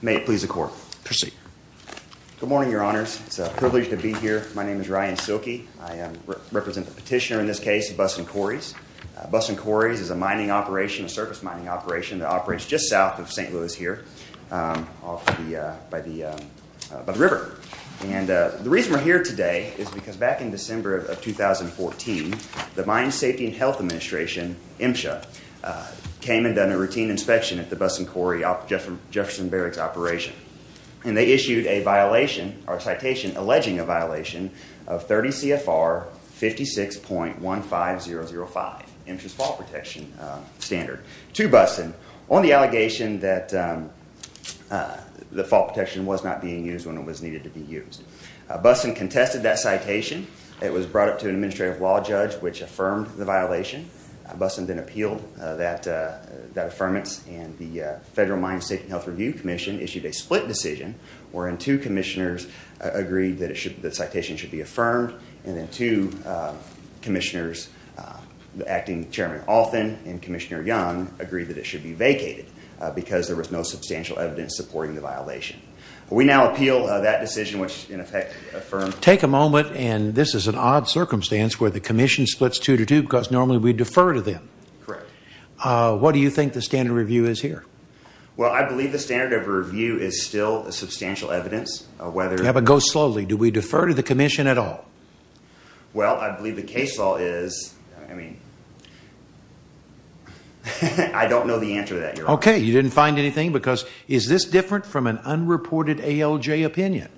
May it please the court. Proceed. Good morning your honors. It's a privilege to be here. My name is Ryan Silke. I represent the petitioner in this case of Bussen Quarries. Bussen Quarries is a mining operation, a surface mining operation, that operates just south of St. Louis here off by the river. And the reason we're here today is because back in December of 2014 the Mine Safety and Health Administration, MSHA, came and done a routine inspection at the Bussen Quarry, Jefferson Barracks operation. And they issued a violation, or citation alleging a violation, of 30 CFR 56.15005, MSHA's fault protection standard, to Bussen on the allegation that the fault protection was not being used when it was needed to be used. Bussen contested that citation. It was brought up to an administrative law judge which affirmed the violation. Bussen then appealed that that affirmance and the Federal Mine Safety and Health Review Commission issued a split decision wherein two commissioners agreed that it should the citation should be affirmed. And then two commissioners, the acting chairman Althon and Commissioner Young, agreed that it should be vacated because there was no substantial evidence supporting the violation. We now appeal that decision which in effect affirmed... Take a moment and this is an odd circumstance where the Commission splits two to two because normally we defer to them. Correct. What do you think the standard review is here? Well I believe the standard of review is still a substantial evidence of whether... Yeah but go slowly. Do we defer to the Commission at all? Well I believe the case law is... I mean I don't know the answer to that. Okay you didn't find anything because is this different from an unreported ALJ opinion?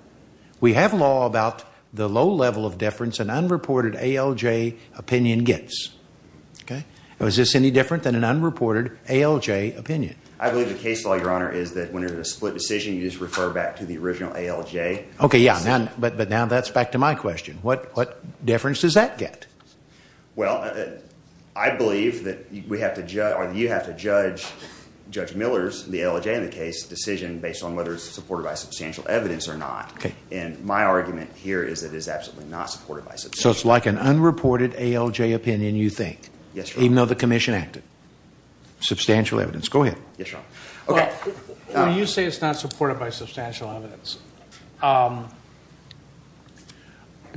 We have law about the low level of deference an unreported ALJ opinion gets. Okay. Was this any different than an unreported ALJ opinion? I believe the case law, Your Honor, is that when there's a split decision you just refer back to the original ALJ. Okay yeah but now that's back to my question. What deference does that get? Well I believe that we have to judge or you have to judge Judge Miller's, the ALJ in the case, decision based on whether it's substantial evidence or not. Okay. And my argument here is that it's absolutely not supported by substantial evidence. So it's like an unreported ALJ opinion you think? Yes, Your Honor. Even though the Commission acted? Substantial evidence. Go ahead. Yes, Your Honor. Okay. When you say it's not supported by substantial evidence,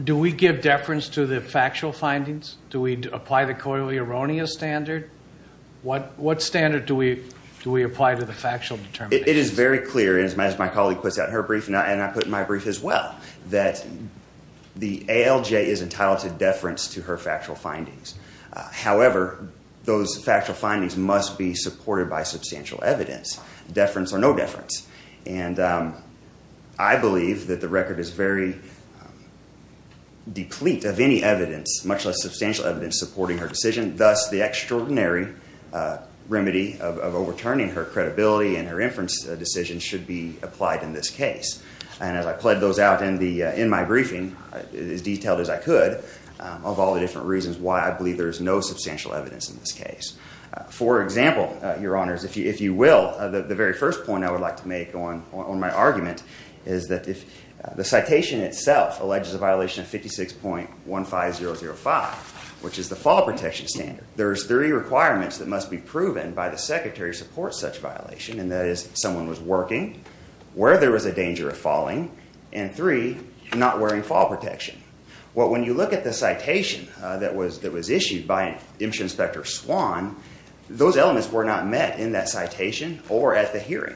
do we give deference to the factual findings? Do we apply the coyly erroneous standard? What what standard do we do we apply to the factual determination? It is very clear as my colleague puts out in her brief and I put in my brief as well that the ALJ is entitled to deference to her factual findings. However, those factual findings must be supported by substantial evidence. Deference or no deference. And I believe that the record is very deplete of any evidence, much less substantial evidence, supporting her decision. Thus the extraordinary remedy of overturning her credibility and her inference decision should be applied in this case. And as I pledged those out in my briefing, as detailed as I could, of all the different reasons why I believe there is no substantial evidence in this case. For example, Your Honors, if you will, the very first point I would like to make on my argument is that if the citation itself alleges a violation of 56.15005, which is the fall protection standard, there's three requirements that must be proven by the secretary to support such violation. And that is someone was working, where there was a danger of falling, and three, not wearing fall protection. Well, when you look at the citation that was that was issued by Inspector Swan, those elements were not met in that citation or at the hearing.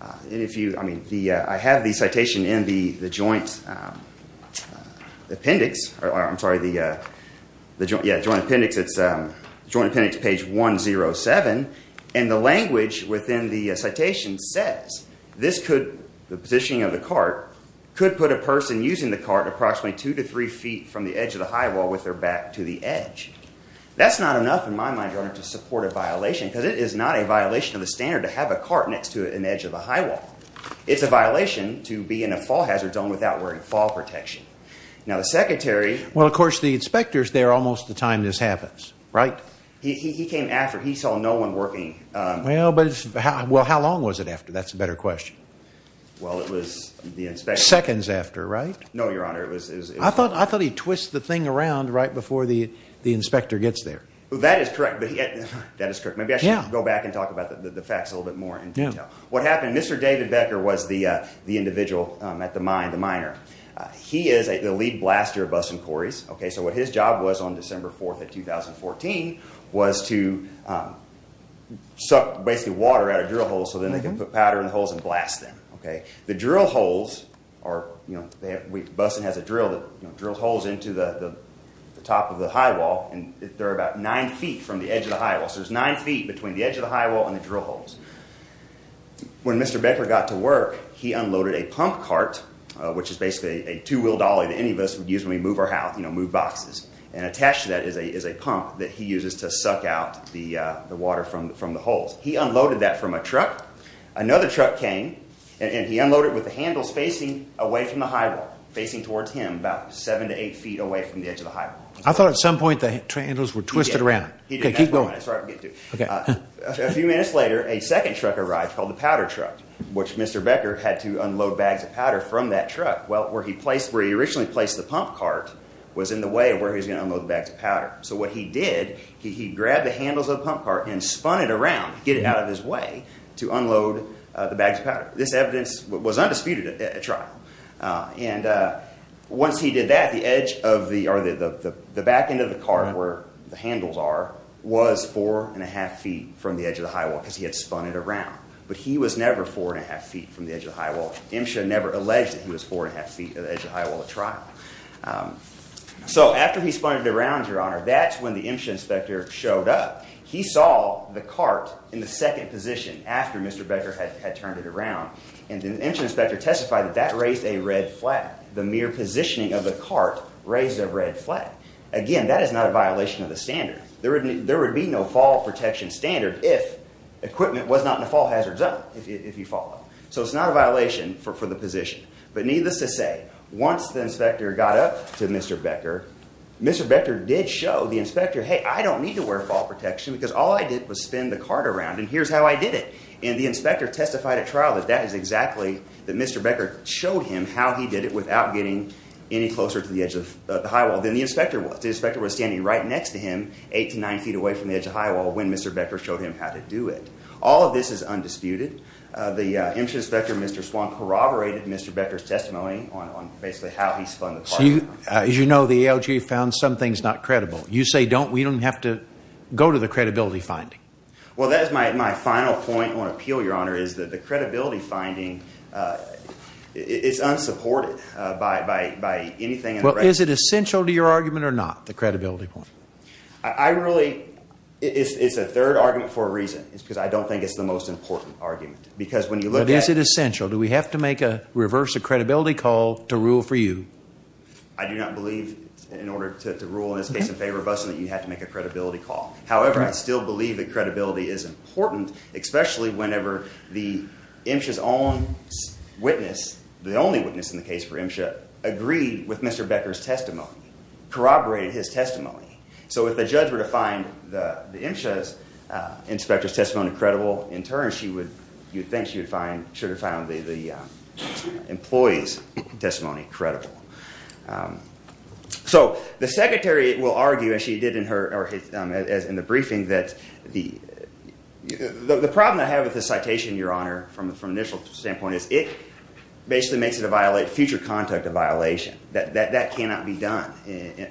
And if you I mean, the I have the citation in the joint appendix, or I'm sorry, the the joint yeah, joint appendix, it's a joint appendix page 107. And the language within the citation says this could the positioning of the cart could put a person using the cart approximately two to three feet from the edge of the high wall with their back to the edge. That's not enough in my mind, Your Honor, to support a violation because it is not a violation of the standard to have a cart next to an edge of a high wall. It's a violation to be in a fall hazard zone without wearing fall protection. Now the secretary Well, of course, the inspectors there almost the time this happens, right? He came after he saw no one working. Well, but well, how long was it after? That's a better question. Well, it was the inspect seconds after, right? No, Your Honor. It was I thought I thought he twist the thing around right before the inspector gets there. That is correct. But that is correct. Maybe I should go back and talk about the facts a little bit more. What happened? Mr David Becker was the individual at the mind, the minor. He is a lead blaster of bus and quarries. Okay, so what his job was on December 4th of 2014 was to suck basically water out of drill holes so then they can put powder in the holes and blast them. Okay, the drill holes are, you know, bus and has a drill that drills holes into the top of the high wall, and they're about nine ft from the edge of the high wall. So there's nine ft between the edge of the high wall and the drill holes. When Mr Becker got to work, he unloaded a pump cart, which is basically a move our house, you know, move boxes and attached to that is a is a pump that he uses to suck out the water from from the holes. He unloaded that from a truck. Another truck came and he unloaded with the handles facing away from the high wall facing towards him about 7 to 8 ft away from the edge of the high. I thought at some point the handles were twisted around. Keep going. Okay, a few minutes later, a second truck arrived called the powder truck, which Mr Becker had to unload bags of powder from that truck. Well, where he placed where he originally placed the pump cart was in the way of where he's gonna unload the bags of powder. So what he did, he grabbed the handles of pump cart and spun it around, get it out of his way to unload the bags of powder. This evidence was undisputed trial. And once he did that, the edge of the or the back end of the car where the handles are was 4.5 ft from the edge of the high wall because he had spun it around. But he was never 4.5 ft from the edge of the high wall. M should never alleged that he was 4.5 ft of the edge of high wall of trial. Um, so after he spun it around your honor, that's when the inspector showed up. He saw the cart in the second position after Mr Becker had turned it around. And the inspector testified that that raised a red flag. The mere positioning of the cart raised a red flag again. That is not a violation of the standard. There would be no fall protection standard if equipment was not in the fall hazard zone if you follow. So it's not a violation for the position. But needless to say, once the inspector got up to Mr Becker, Mr Becker did show the inspector. Hey, I don't need to wear fall protection because all I did was spend the card around and here's how I did it. And the inspector testified a trial that that is exactly that Mr Becker showed him how he did it without getting any closer to the edge of the high wall than the inspector was. The inspector was standing right next to him, 89 ft away from the edge of high wall when Mr Becker showed him how to do it. All of this is undisputed. The inspector, Mr Swan corroborated Mr Becker's testimony on basically how he spun. As you know, the LG found some things not credible. You say, don't we don't have to go to the credibility finding? Well, that is my final point on appeal. Your honor is that the credibility finding, uh, it's unsupported by anything. Is it essential to your argument or not? The credibility point? I really it's a third argument for a reason. It's because I don't think it's the most important argument because when you look, is it essential? Do we have to make a reverse a credibility call to rule for you? I do not believe in order to rule in this case in favor of us and that you have to make a credibility call. However, I still believe that credibility is important, especially whenever the inches on witness, the only witness in the case for him, should agree with Mr Becker's testimony corroborated his testimony. So if the inspectors testimony credible in turn, she would you think you'd find should have found the employees testimony credible. Um, so the secretary will argue, as she did in her or his as in the briefing that the the problem I have with the citation, your honor from from initial standpoint is it basically makes it a violate future conduct of violation that that cannot be done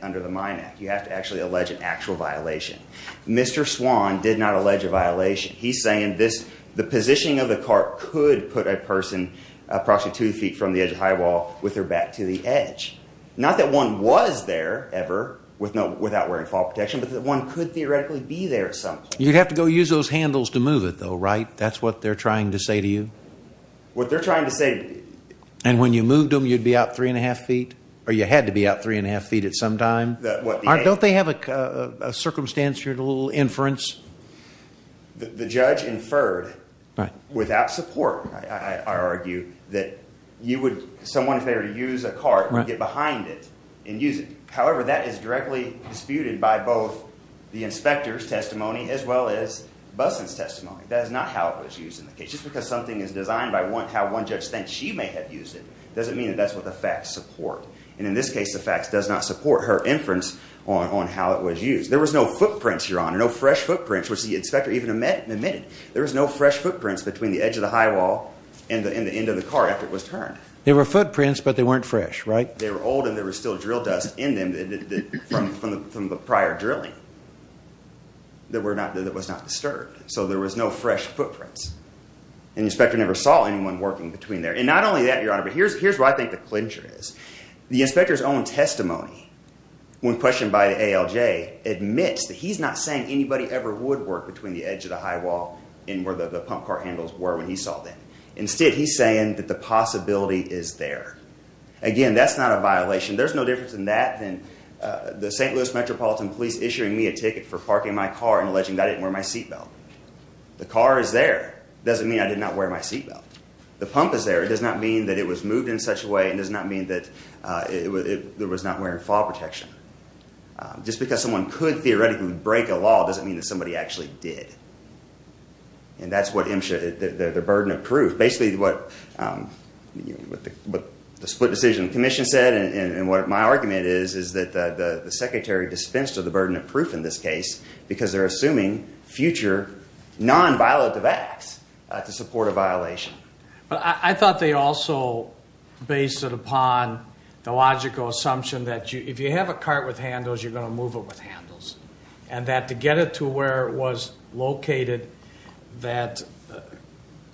under the mine act. You have to actually allege an actual violation. Mr Swan did not allege a violation. He's saying this, the positioning of the cart could put a person approximately two ft from the edge of high wall with her back to the edge. Not that one was there ever with no without wearing fall protection, but that one could theoretically be there. So you'd have to go use those handles to move it though, right? That's what they're trying to say to you. What they're trying to say. And when you moved them, you'd be out 3.5 ft or you had to be out 3.5 ft at some time. Don't they have a circumstantial inference? The judge inferred without support. I argue that you would someone if they were to use a car, get behind it and use it. However, that is directly disputed by both the inspector's testimony as well as business testimony. That is not how it was used in the case. Just because something is designed by one how one judge thinks she may have used it doesn't mean that that's what the facts support. And in this case, the facts does not support her inference on how it was used. There was no footprints here on no fresh footprints, which the inspector even met and admitted there is no fresh footprints between the edge of the high wall and the end of the car. After it was turned, there were footprints, but they weren't fresh, right? They were old and there was still drill dust in them from the prior drilling. There were not that was not disturbed, so there was no fresh footprints and inspector never saw anyone working between there. And not only that, your here's here's where I think the clincher is. The inspector's own testimony when questioned by the L J admits that he's not saying anybody ever would work between the edge of the high wall in where the pump car handles were when he saw that. Instead, he's saying that the possibility is there again. That's not a violation. There's no difference in that than the ST Louis Metropolitan Police issuing me a ticket for parking my car and alleging that I didn't wear my seatbelt. The car is there doesn't mean I did not wear my seatbelt. The pump is there. It does not mean that it was moved in such a way. It does not mean that it was not wearing fall protection. Just because someone could theoretically break a law doesn't mean that somebody actually did. And that's what him should the burden of proof. Basically, what, um, what the split decision commission said and what my argument is, is that the secretary dispensed of the burden of proof in this case because they're a violation. But I thought they also based it upon the logical assumption that if you have a cart with handles, you're gonna move it with handles and that to get it to where it was located that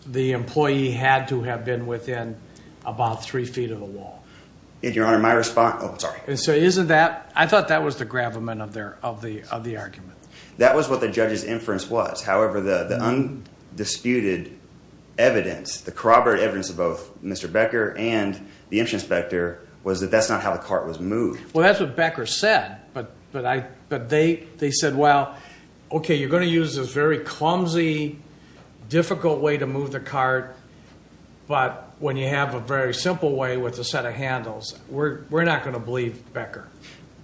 the employee had to have been within about three ft of the wall. And your honor, my response. And so isn't that I thought that was the gravamen of their of the of the argument. That was what the judge's inference was. However, the undisputed evidence, the corroborate evidence of both Mr Becker and the inspector was that that's not how the cart was moved. Well, that's what Becker said. But but they said, well, okay, you're going to use this very clumsy, difficult way to move the cart. But when you have a very simple way with a set of handles, we're not gonna believe Becker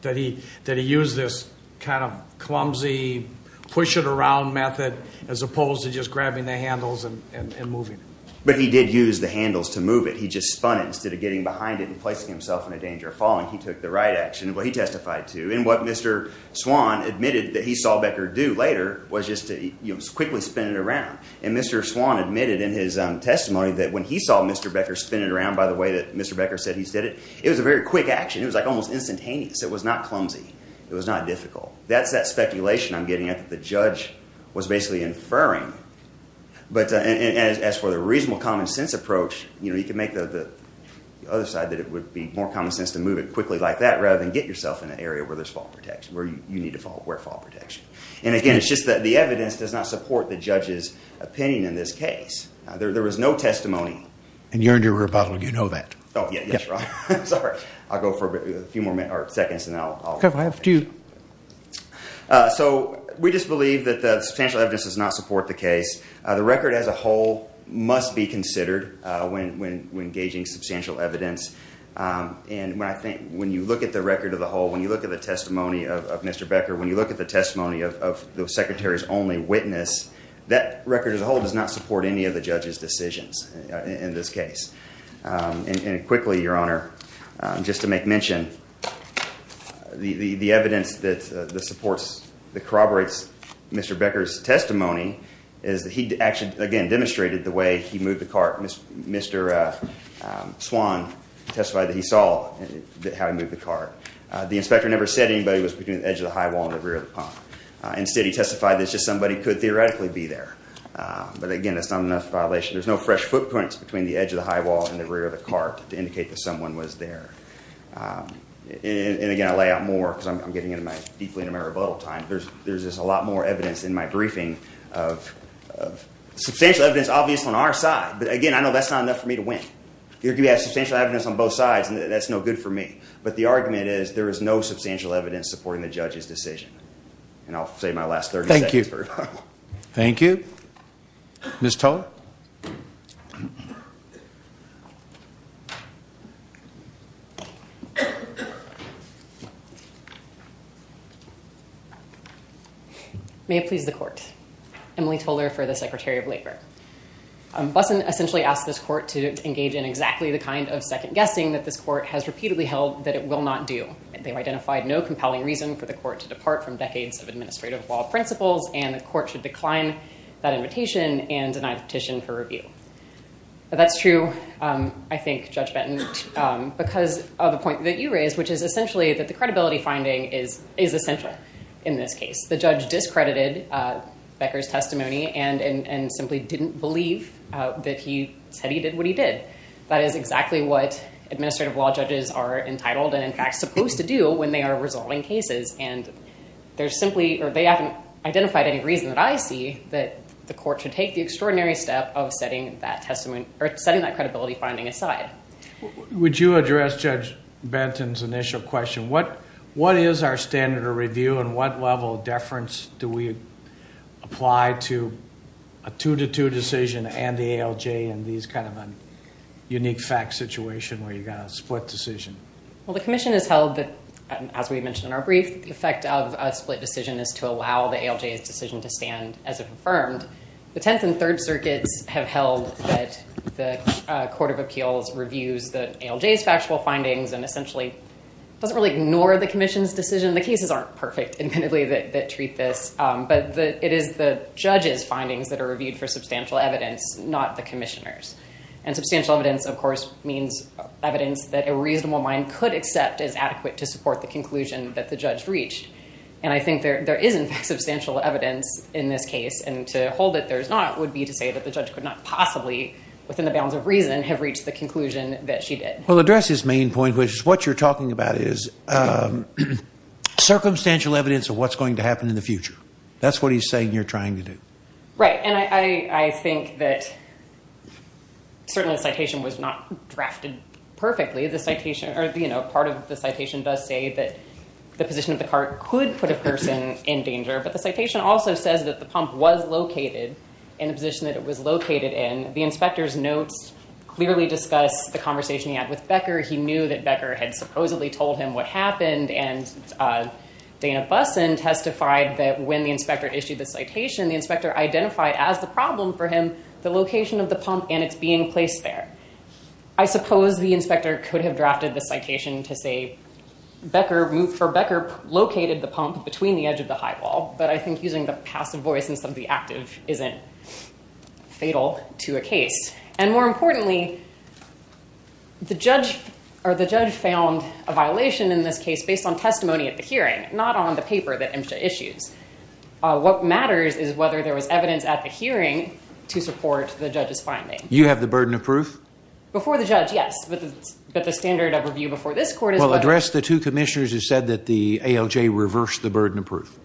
that he that he used this kind of clumsy, push it around method as opposed to just grabbing the handles and moving. But he did use the handles to move it. He just spun it instead of getting behind it and placing himself in a danger of falling. He took the right action. Well, he testified to and what Mr Swan admitted that he saw Becker do later was just to quickly spin it around. And Mr Swan admitted in his testimony that when he saw Mr Becker spin it around by the way that Mr Becker said he did it, it was a very quick action. It was like almost instantaneous. It was not clumsy. It was not difficult. That's that speculation I'm getting at the judge was basically inferring. But as for the reasonable common sense approach, you know, you can make the other side that it would be more common sense to move it quickly like that rather than get yourself in an area where there's fault protection where you need to follow where fall protection. And again, it's just that the evidence does not support the judge's opinion. In this case, there was no testimony. And you're in your bottle. You know that? Oh, yeah. Sorry. I'll go for a few more seconds. And I'll have to. Uh, so we just believe that the substantial evidence does not support the case. The record as a whole must be considered when engaging substantial evidence. Um, and when I think when you look at the record of the whole, when you look at the testimony of Mr Becker, when you look at the testimony of the secretary's only witness, that record as a whole does not support any of the Um, and quickly, your honor, just to make mention the evidence that the supports the corroborates Mr Becker's testimony is that he actually again demonstrated the way he moved the cart. Mr Swan testified that he saw how he moved the car. The inspector never said anybody was between the edge of the high wall and the rear of the pump. Instead, he testified that just somebody could theoretically be there. But again, it's not enough violation. There's no fresh footprints between the edge of the high wall and the rear of the cart to indicate that someone was there. Um, and again, I lay out more because I'm getting into my deeply in a rebuttal time. There's there's just a lot more evidence in my briefing of substantial evidence, obvious on our side. But again, I know that's not enough for me to win. You have substantial evidence on both sides, and that's no good for me. But the argument is there is no substantial evidence supporting the judge's decision. And I'll say my last 30. Thank you. Thank you, Miss Toller. May it please the court. Emily Toler for the secretary of labor. Bussin essentially asked this court to engage in exactly the kind of second guessing that this court has repeatedly held that it will not do. They identified no compelling reason for the court to depart from decades of principles, and the court should decline that invitation and I petition for review. That's true. I think Judge Benton because of the point that you raised, which is essentially that the credibility finding is essential. In this case, the judge discredited Becker's testimony and simply didn't believe that he said he did what he did. That is exactly what administrative law judges are entitled and, in fact, supposed to do when they are resolving cases. And they haven't identified any reason that I see that the court should take the extraordinary step of setting that credibility finding aside. Would you address Judge Benton's initial question? What is our standard of review and what level of deference do we apply to a two to two decision and the ALJ in these kind of a unique fact situation where you've split decision? Well, the commission has held that, as we mentioned in our brief, the effect of a split decision is to allow the ALJ's decision to stand as if affirmed. The Tenth and Third Circuits have held that the Court of Appeals reviews the ALJ's factual findings and essentially doesn't really ignore the commission's decision. The cases aren't perfect, admittedly, that treat this, but it is the judge's findings that are reviewed for substantial evidence, not the commissioner's. And substantial evidence, of course, means evidence that a reasonable mind could accept as adequate to support the conclusion that the judge reached. And I think there is, in fact, substantial evidence in this case. And to hold it there's not would be to say that the judge could not possibly, within the bounds of reason, have reached the conclusion that she did. Well, address his main point, which is what you're talking about is circumstantial evidence of what's going to happen in the future. That's what he's saying you're trying to do. Right. And I think that certainly the citation was not drafted perfectly. The citation, or you know, part of the citation does say that the position of the cart could put a person in danger, but the citation also says that the pump was located in the position that it was located in. The inspector's notes clearly discuss the conversation he had with Becker. He knew that Becker had supposedly told him what happened, and Dana Busson testified that when the as the problem for him, the location of the pump and it's being placed there. I suppose the inspector could have drafted the citation to say Becker moved for Becker located the pump between the edge of the high wall, but I think using the passive voice instead of the active isn't fatal to a case. And more importantly, the judge or the judge found a violation in this case based on testimony at the hearing, not on the paper that MSHA issues. What matters is whether there was evidence at the hearing to support the judge's finding. You have the burden of proof? Before the judge, yes, but the standard of review before this court is... Well, address the two commissioners who said that the ALJ reversed the burden of proof.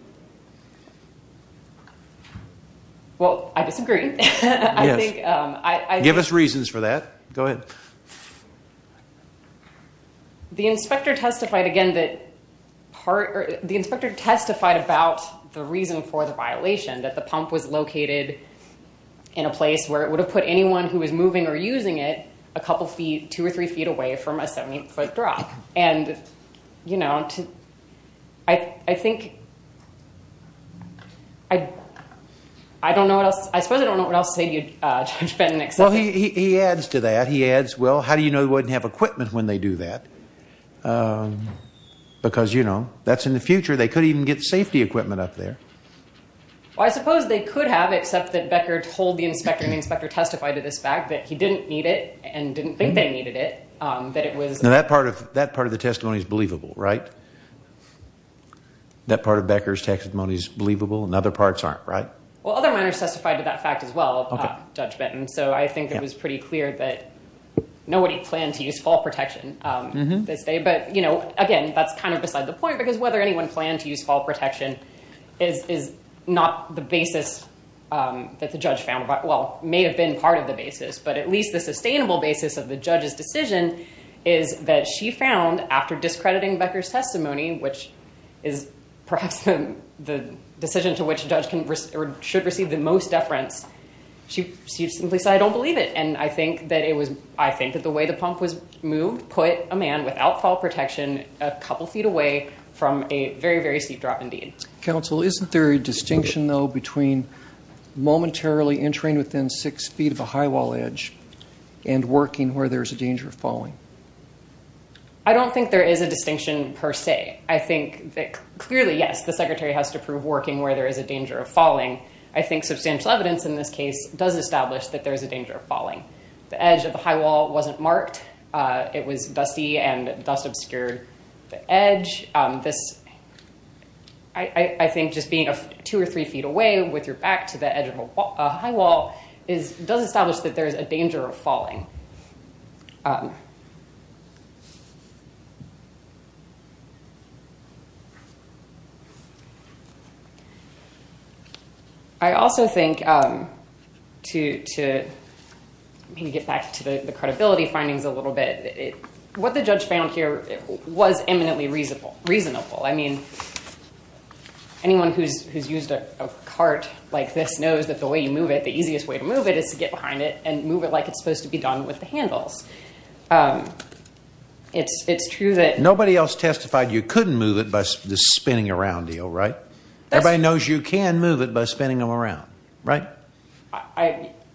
Well, I disagree. Give us reasons for that. Go ahead. The inspector testified again that part, the inspector testified about the reason for the violation, that the pump was located in a place where it would have put anyone who was moving or using it a couple feet, two or three feet away from a 17-foot drop. And, you know, I think, I don't know what else, I suppose I don't know what else to say to you, Judge Bennett. Well, he adds to that. He adds, well, how do you know they wouldn't have equipment when they do that? Because, you know, that's in the future. They could even get safety equipment up there. Well, I suppose they could have, except that Becker told the inspector and the inspector testified to this fact that he didn't need it and didn't think they needed it, that it was... Now, that part of that part of the testimony is believable, right? That part of Becker's testimony is believable and other parts aren't, right? Well, other minors testified to that fact as well, Judge Bennett, and so I think it was pretty clear that nobody planned to use fall protection this day, but, you know, again, that's kind of beside the point, because whether anyone planned to use fall protection is not the basis that the judge found, well, may have been part of the basis, but at least the sustainable basis of the judge's decision is that she found, after discrediting Becker's testimony, which is perhaps the decision to which a judge should receive the most deference, she simply said, I don't believe it. And I think that it was, I think that the way the pump was a couple feet away from a very, very steep drop indeed. Counsel, isn't there a distinction, though, between momentarily entering within six feet of a high wall edge and working where there's a danger of falling? I don't think there is a distinction per se. I think that, clearly, yes, the secretary has to prove working where there is a danger of falling. I think substantial evidence in this case does establish that there is a danger of falling. The edge of the high wall wasn't marked. It was dusty and dust-obscured edge. This, I think, just being a two or three feet away with your back to the edge of a high wall does establish that there is a danger of falling. I also think, to get back to the credibility findings a little bit, what the judge found here was eminently reasonable. I mean, anyone who's used a cart like this knows that the way you move it, the easiest way to move it is to get behind it and move it like it's supposed to be done with the handles. It's true that... Nobody else testified you couldn't move it by the spinning around deal, right? Everybody knows you can move it by spinning them around, right?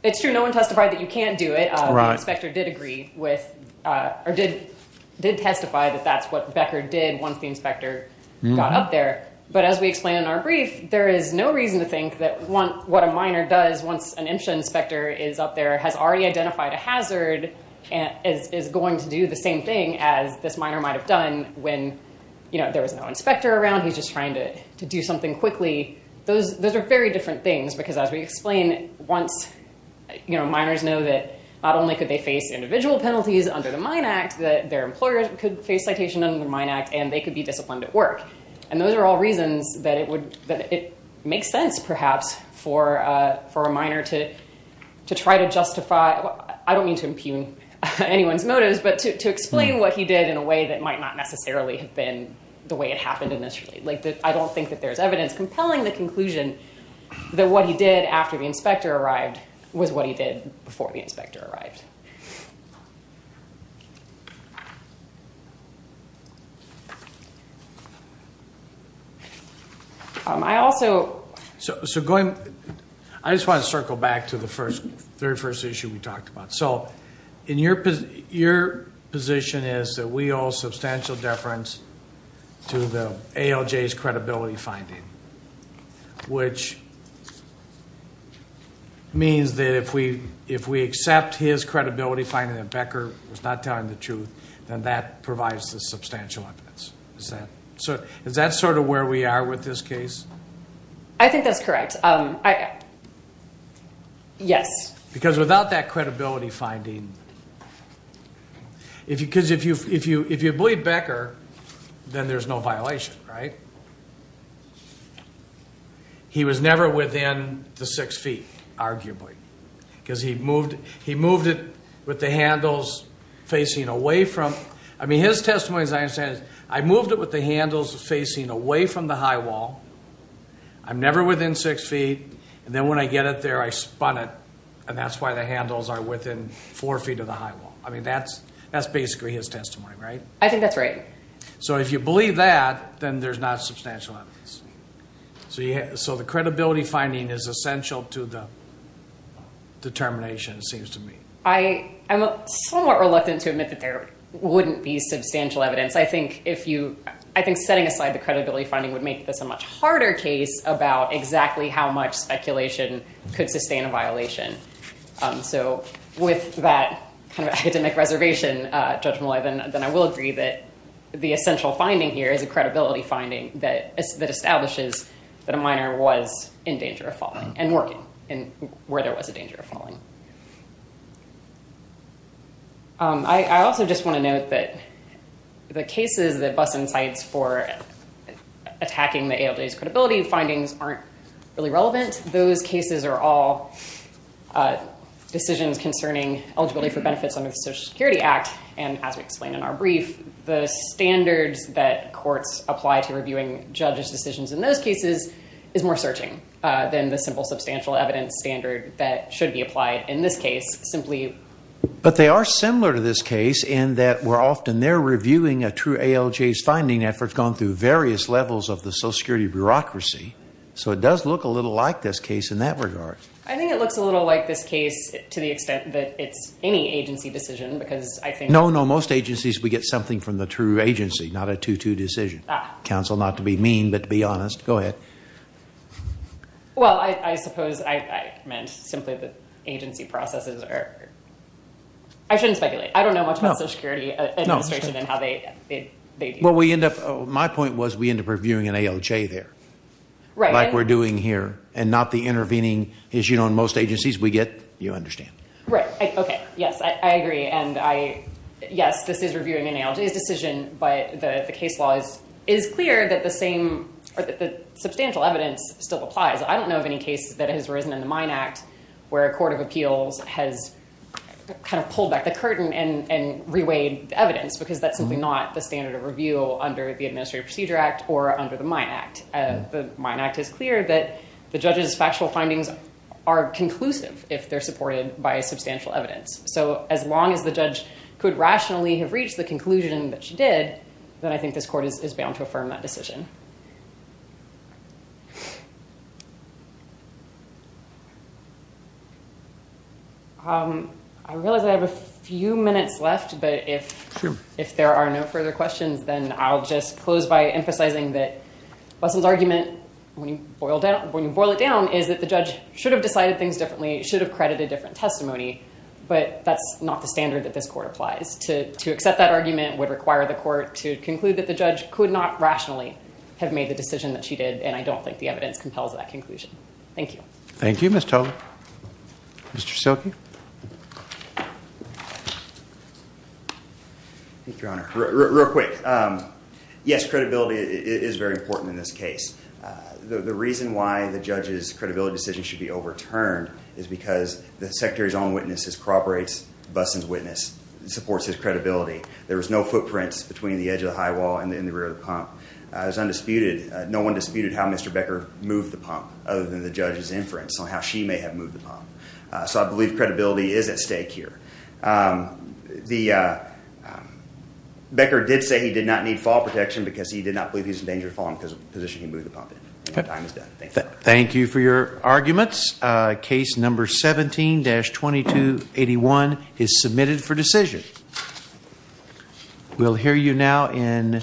It's true. No one testified that you can't do it. The inspector did agree with, or did testify that that's what Becker did once the inspector got up there. But as we explain in our brief, there is no reason to think that what a minor does once an IMSHA inspector is up there has already identified a hazard and is going to do the same thing as this minor might have done when, you know, there was no inspector around. He's just trying to do something quickly. Those are very different things because, as we under the Mine Act, that their employers could face citation under the Mine Act and they could be disciplined at work. And those are all reasons that it would... that it makes sense, perhaps, for a minor to try to justify... I don't mean to impugn anyone's motives, but to explain what he did in a way that might not necessarily have been the way it happened initially. Like, I don't think that there's evidence compelling the conclusion that what he did after the inspector arrived. I also... So going... I just want to circle back to the first... very first issue we talked about. So in your position is that we owe substantial deference to the ALJ's credibility finding, which means that if we accept his credibility finding that Becker was not telling the truth, then that provides the substantial evidence. Is that sort of where we are with this case? I think that's correct. Yes. Because without that credibility finding, if you... because if you believe Becker, then there's no violation, right? He was never within the six feet, arguably, because he moved it with the handles facing away from... I mean, his testimony, as I understand it, I moved it with the handles facing away from the high wall. I'm never within six feet, and then when I get it there, I spun it, and that's why the handles are within four feet of the high wall. I mean, that's basically his testimony, right? I think that's right. So if you believe that, then there's not substantial evidence. So the credibility finding is essential to the determination, it seems to me. I'm somewhat reluctant to admit that there wouldn't be substantial evidence. I think setting aside the credibility finding would make this a much harder case about exactly how much speculation could sustain a violation. So with that kind of academic reservation, Judge Molloy, then I will agree that the essential finding here is a credibility finding that establishes that a minor was in danger of falling and working where there was a danger of falling. I also just want to note that the cases that bust insights for attacking the ALJ's credibility findings aren't really relevant. Those cases are all decisions concerning eligibility for benefits under the Social Security Act, and as we explained in our brief, the standards that courts apply to reviewing judges' decisions in those cases is more searching than the simple substantial evidence standard that should be applied in this case, simply- But they are similar to this case in that we're often there reviewing a true ALJ's finding after it's gone through various levels of the Social Security bureaucracy. So it does look a little like this case in that regard. I think it looks a little like this case to the extent that it's any agency decision because I think- In most agencies, we get something from the true agency, not a two-two decision. Counsel, not to be mean, but to be honest. Go ahead. Well, I suppose I meant simply that agency processes are- I shouldn't speculate. I don't know much about Social Security administration and how they deal with that. My point was we end up reviewing an ALJ there like we're doing here and not the intervening issue in most agencies we get. You understand. Right. Okay. Yes, I agree. Yes, this is reviewing an ALJ's decision, but the case law is clear that the same substantial evidence still applies. I don't know of any cases that has arisen in the Mine Act where a court of appeals has pulled back the curtain and reweighed evidence because that's simply not the standard of review under the Administrative Procedure Act or under the Mine Act. The Mine Act is clear that the judge's factual findings are substantial evidence. As long as the judge could rationally have reached the conclusion that she did, then I think this court is bound to affirm that decision. I realize I have a few minutes left, but if there are no further questions, then I'll just close by emphasizing that Busson's argument, when you boil it down, is that the judge should have decided things differently, should have credited different testimony, but that's not the standard that this court applies. To accept that argument would require the court to conclude that the judge could not rationally have made the decision that she did, and I don't think the evidence compels that conclusion. Thank you. Thank you, Ms. Tolbert. Mr. Silke? Thank you, Your Honor. Real quick. Yes, credibility is very important in this case. The reason why the judge's credibility decision should be overturned is because the Secretary's own witnesses corroborates Busson's witness and supports his credibility. There was no footprints between the edge of the high wall and in the rear of the pump. It was undisputed. No one disputed how Mr. Becker moved the pump other than the judge's inference on how she may have moved the pump. So I believe credibility is at stake here. Becker did say he did not need fall protection because he did not believe he was in danger of falling because of the position he moved the pump in. My time is done. Thank you. Thank you for your arguments. Case number 17-2281 is submitted for decision. We'll hear you now in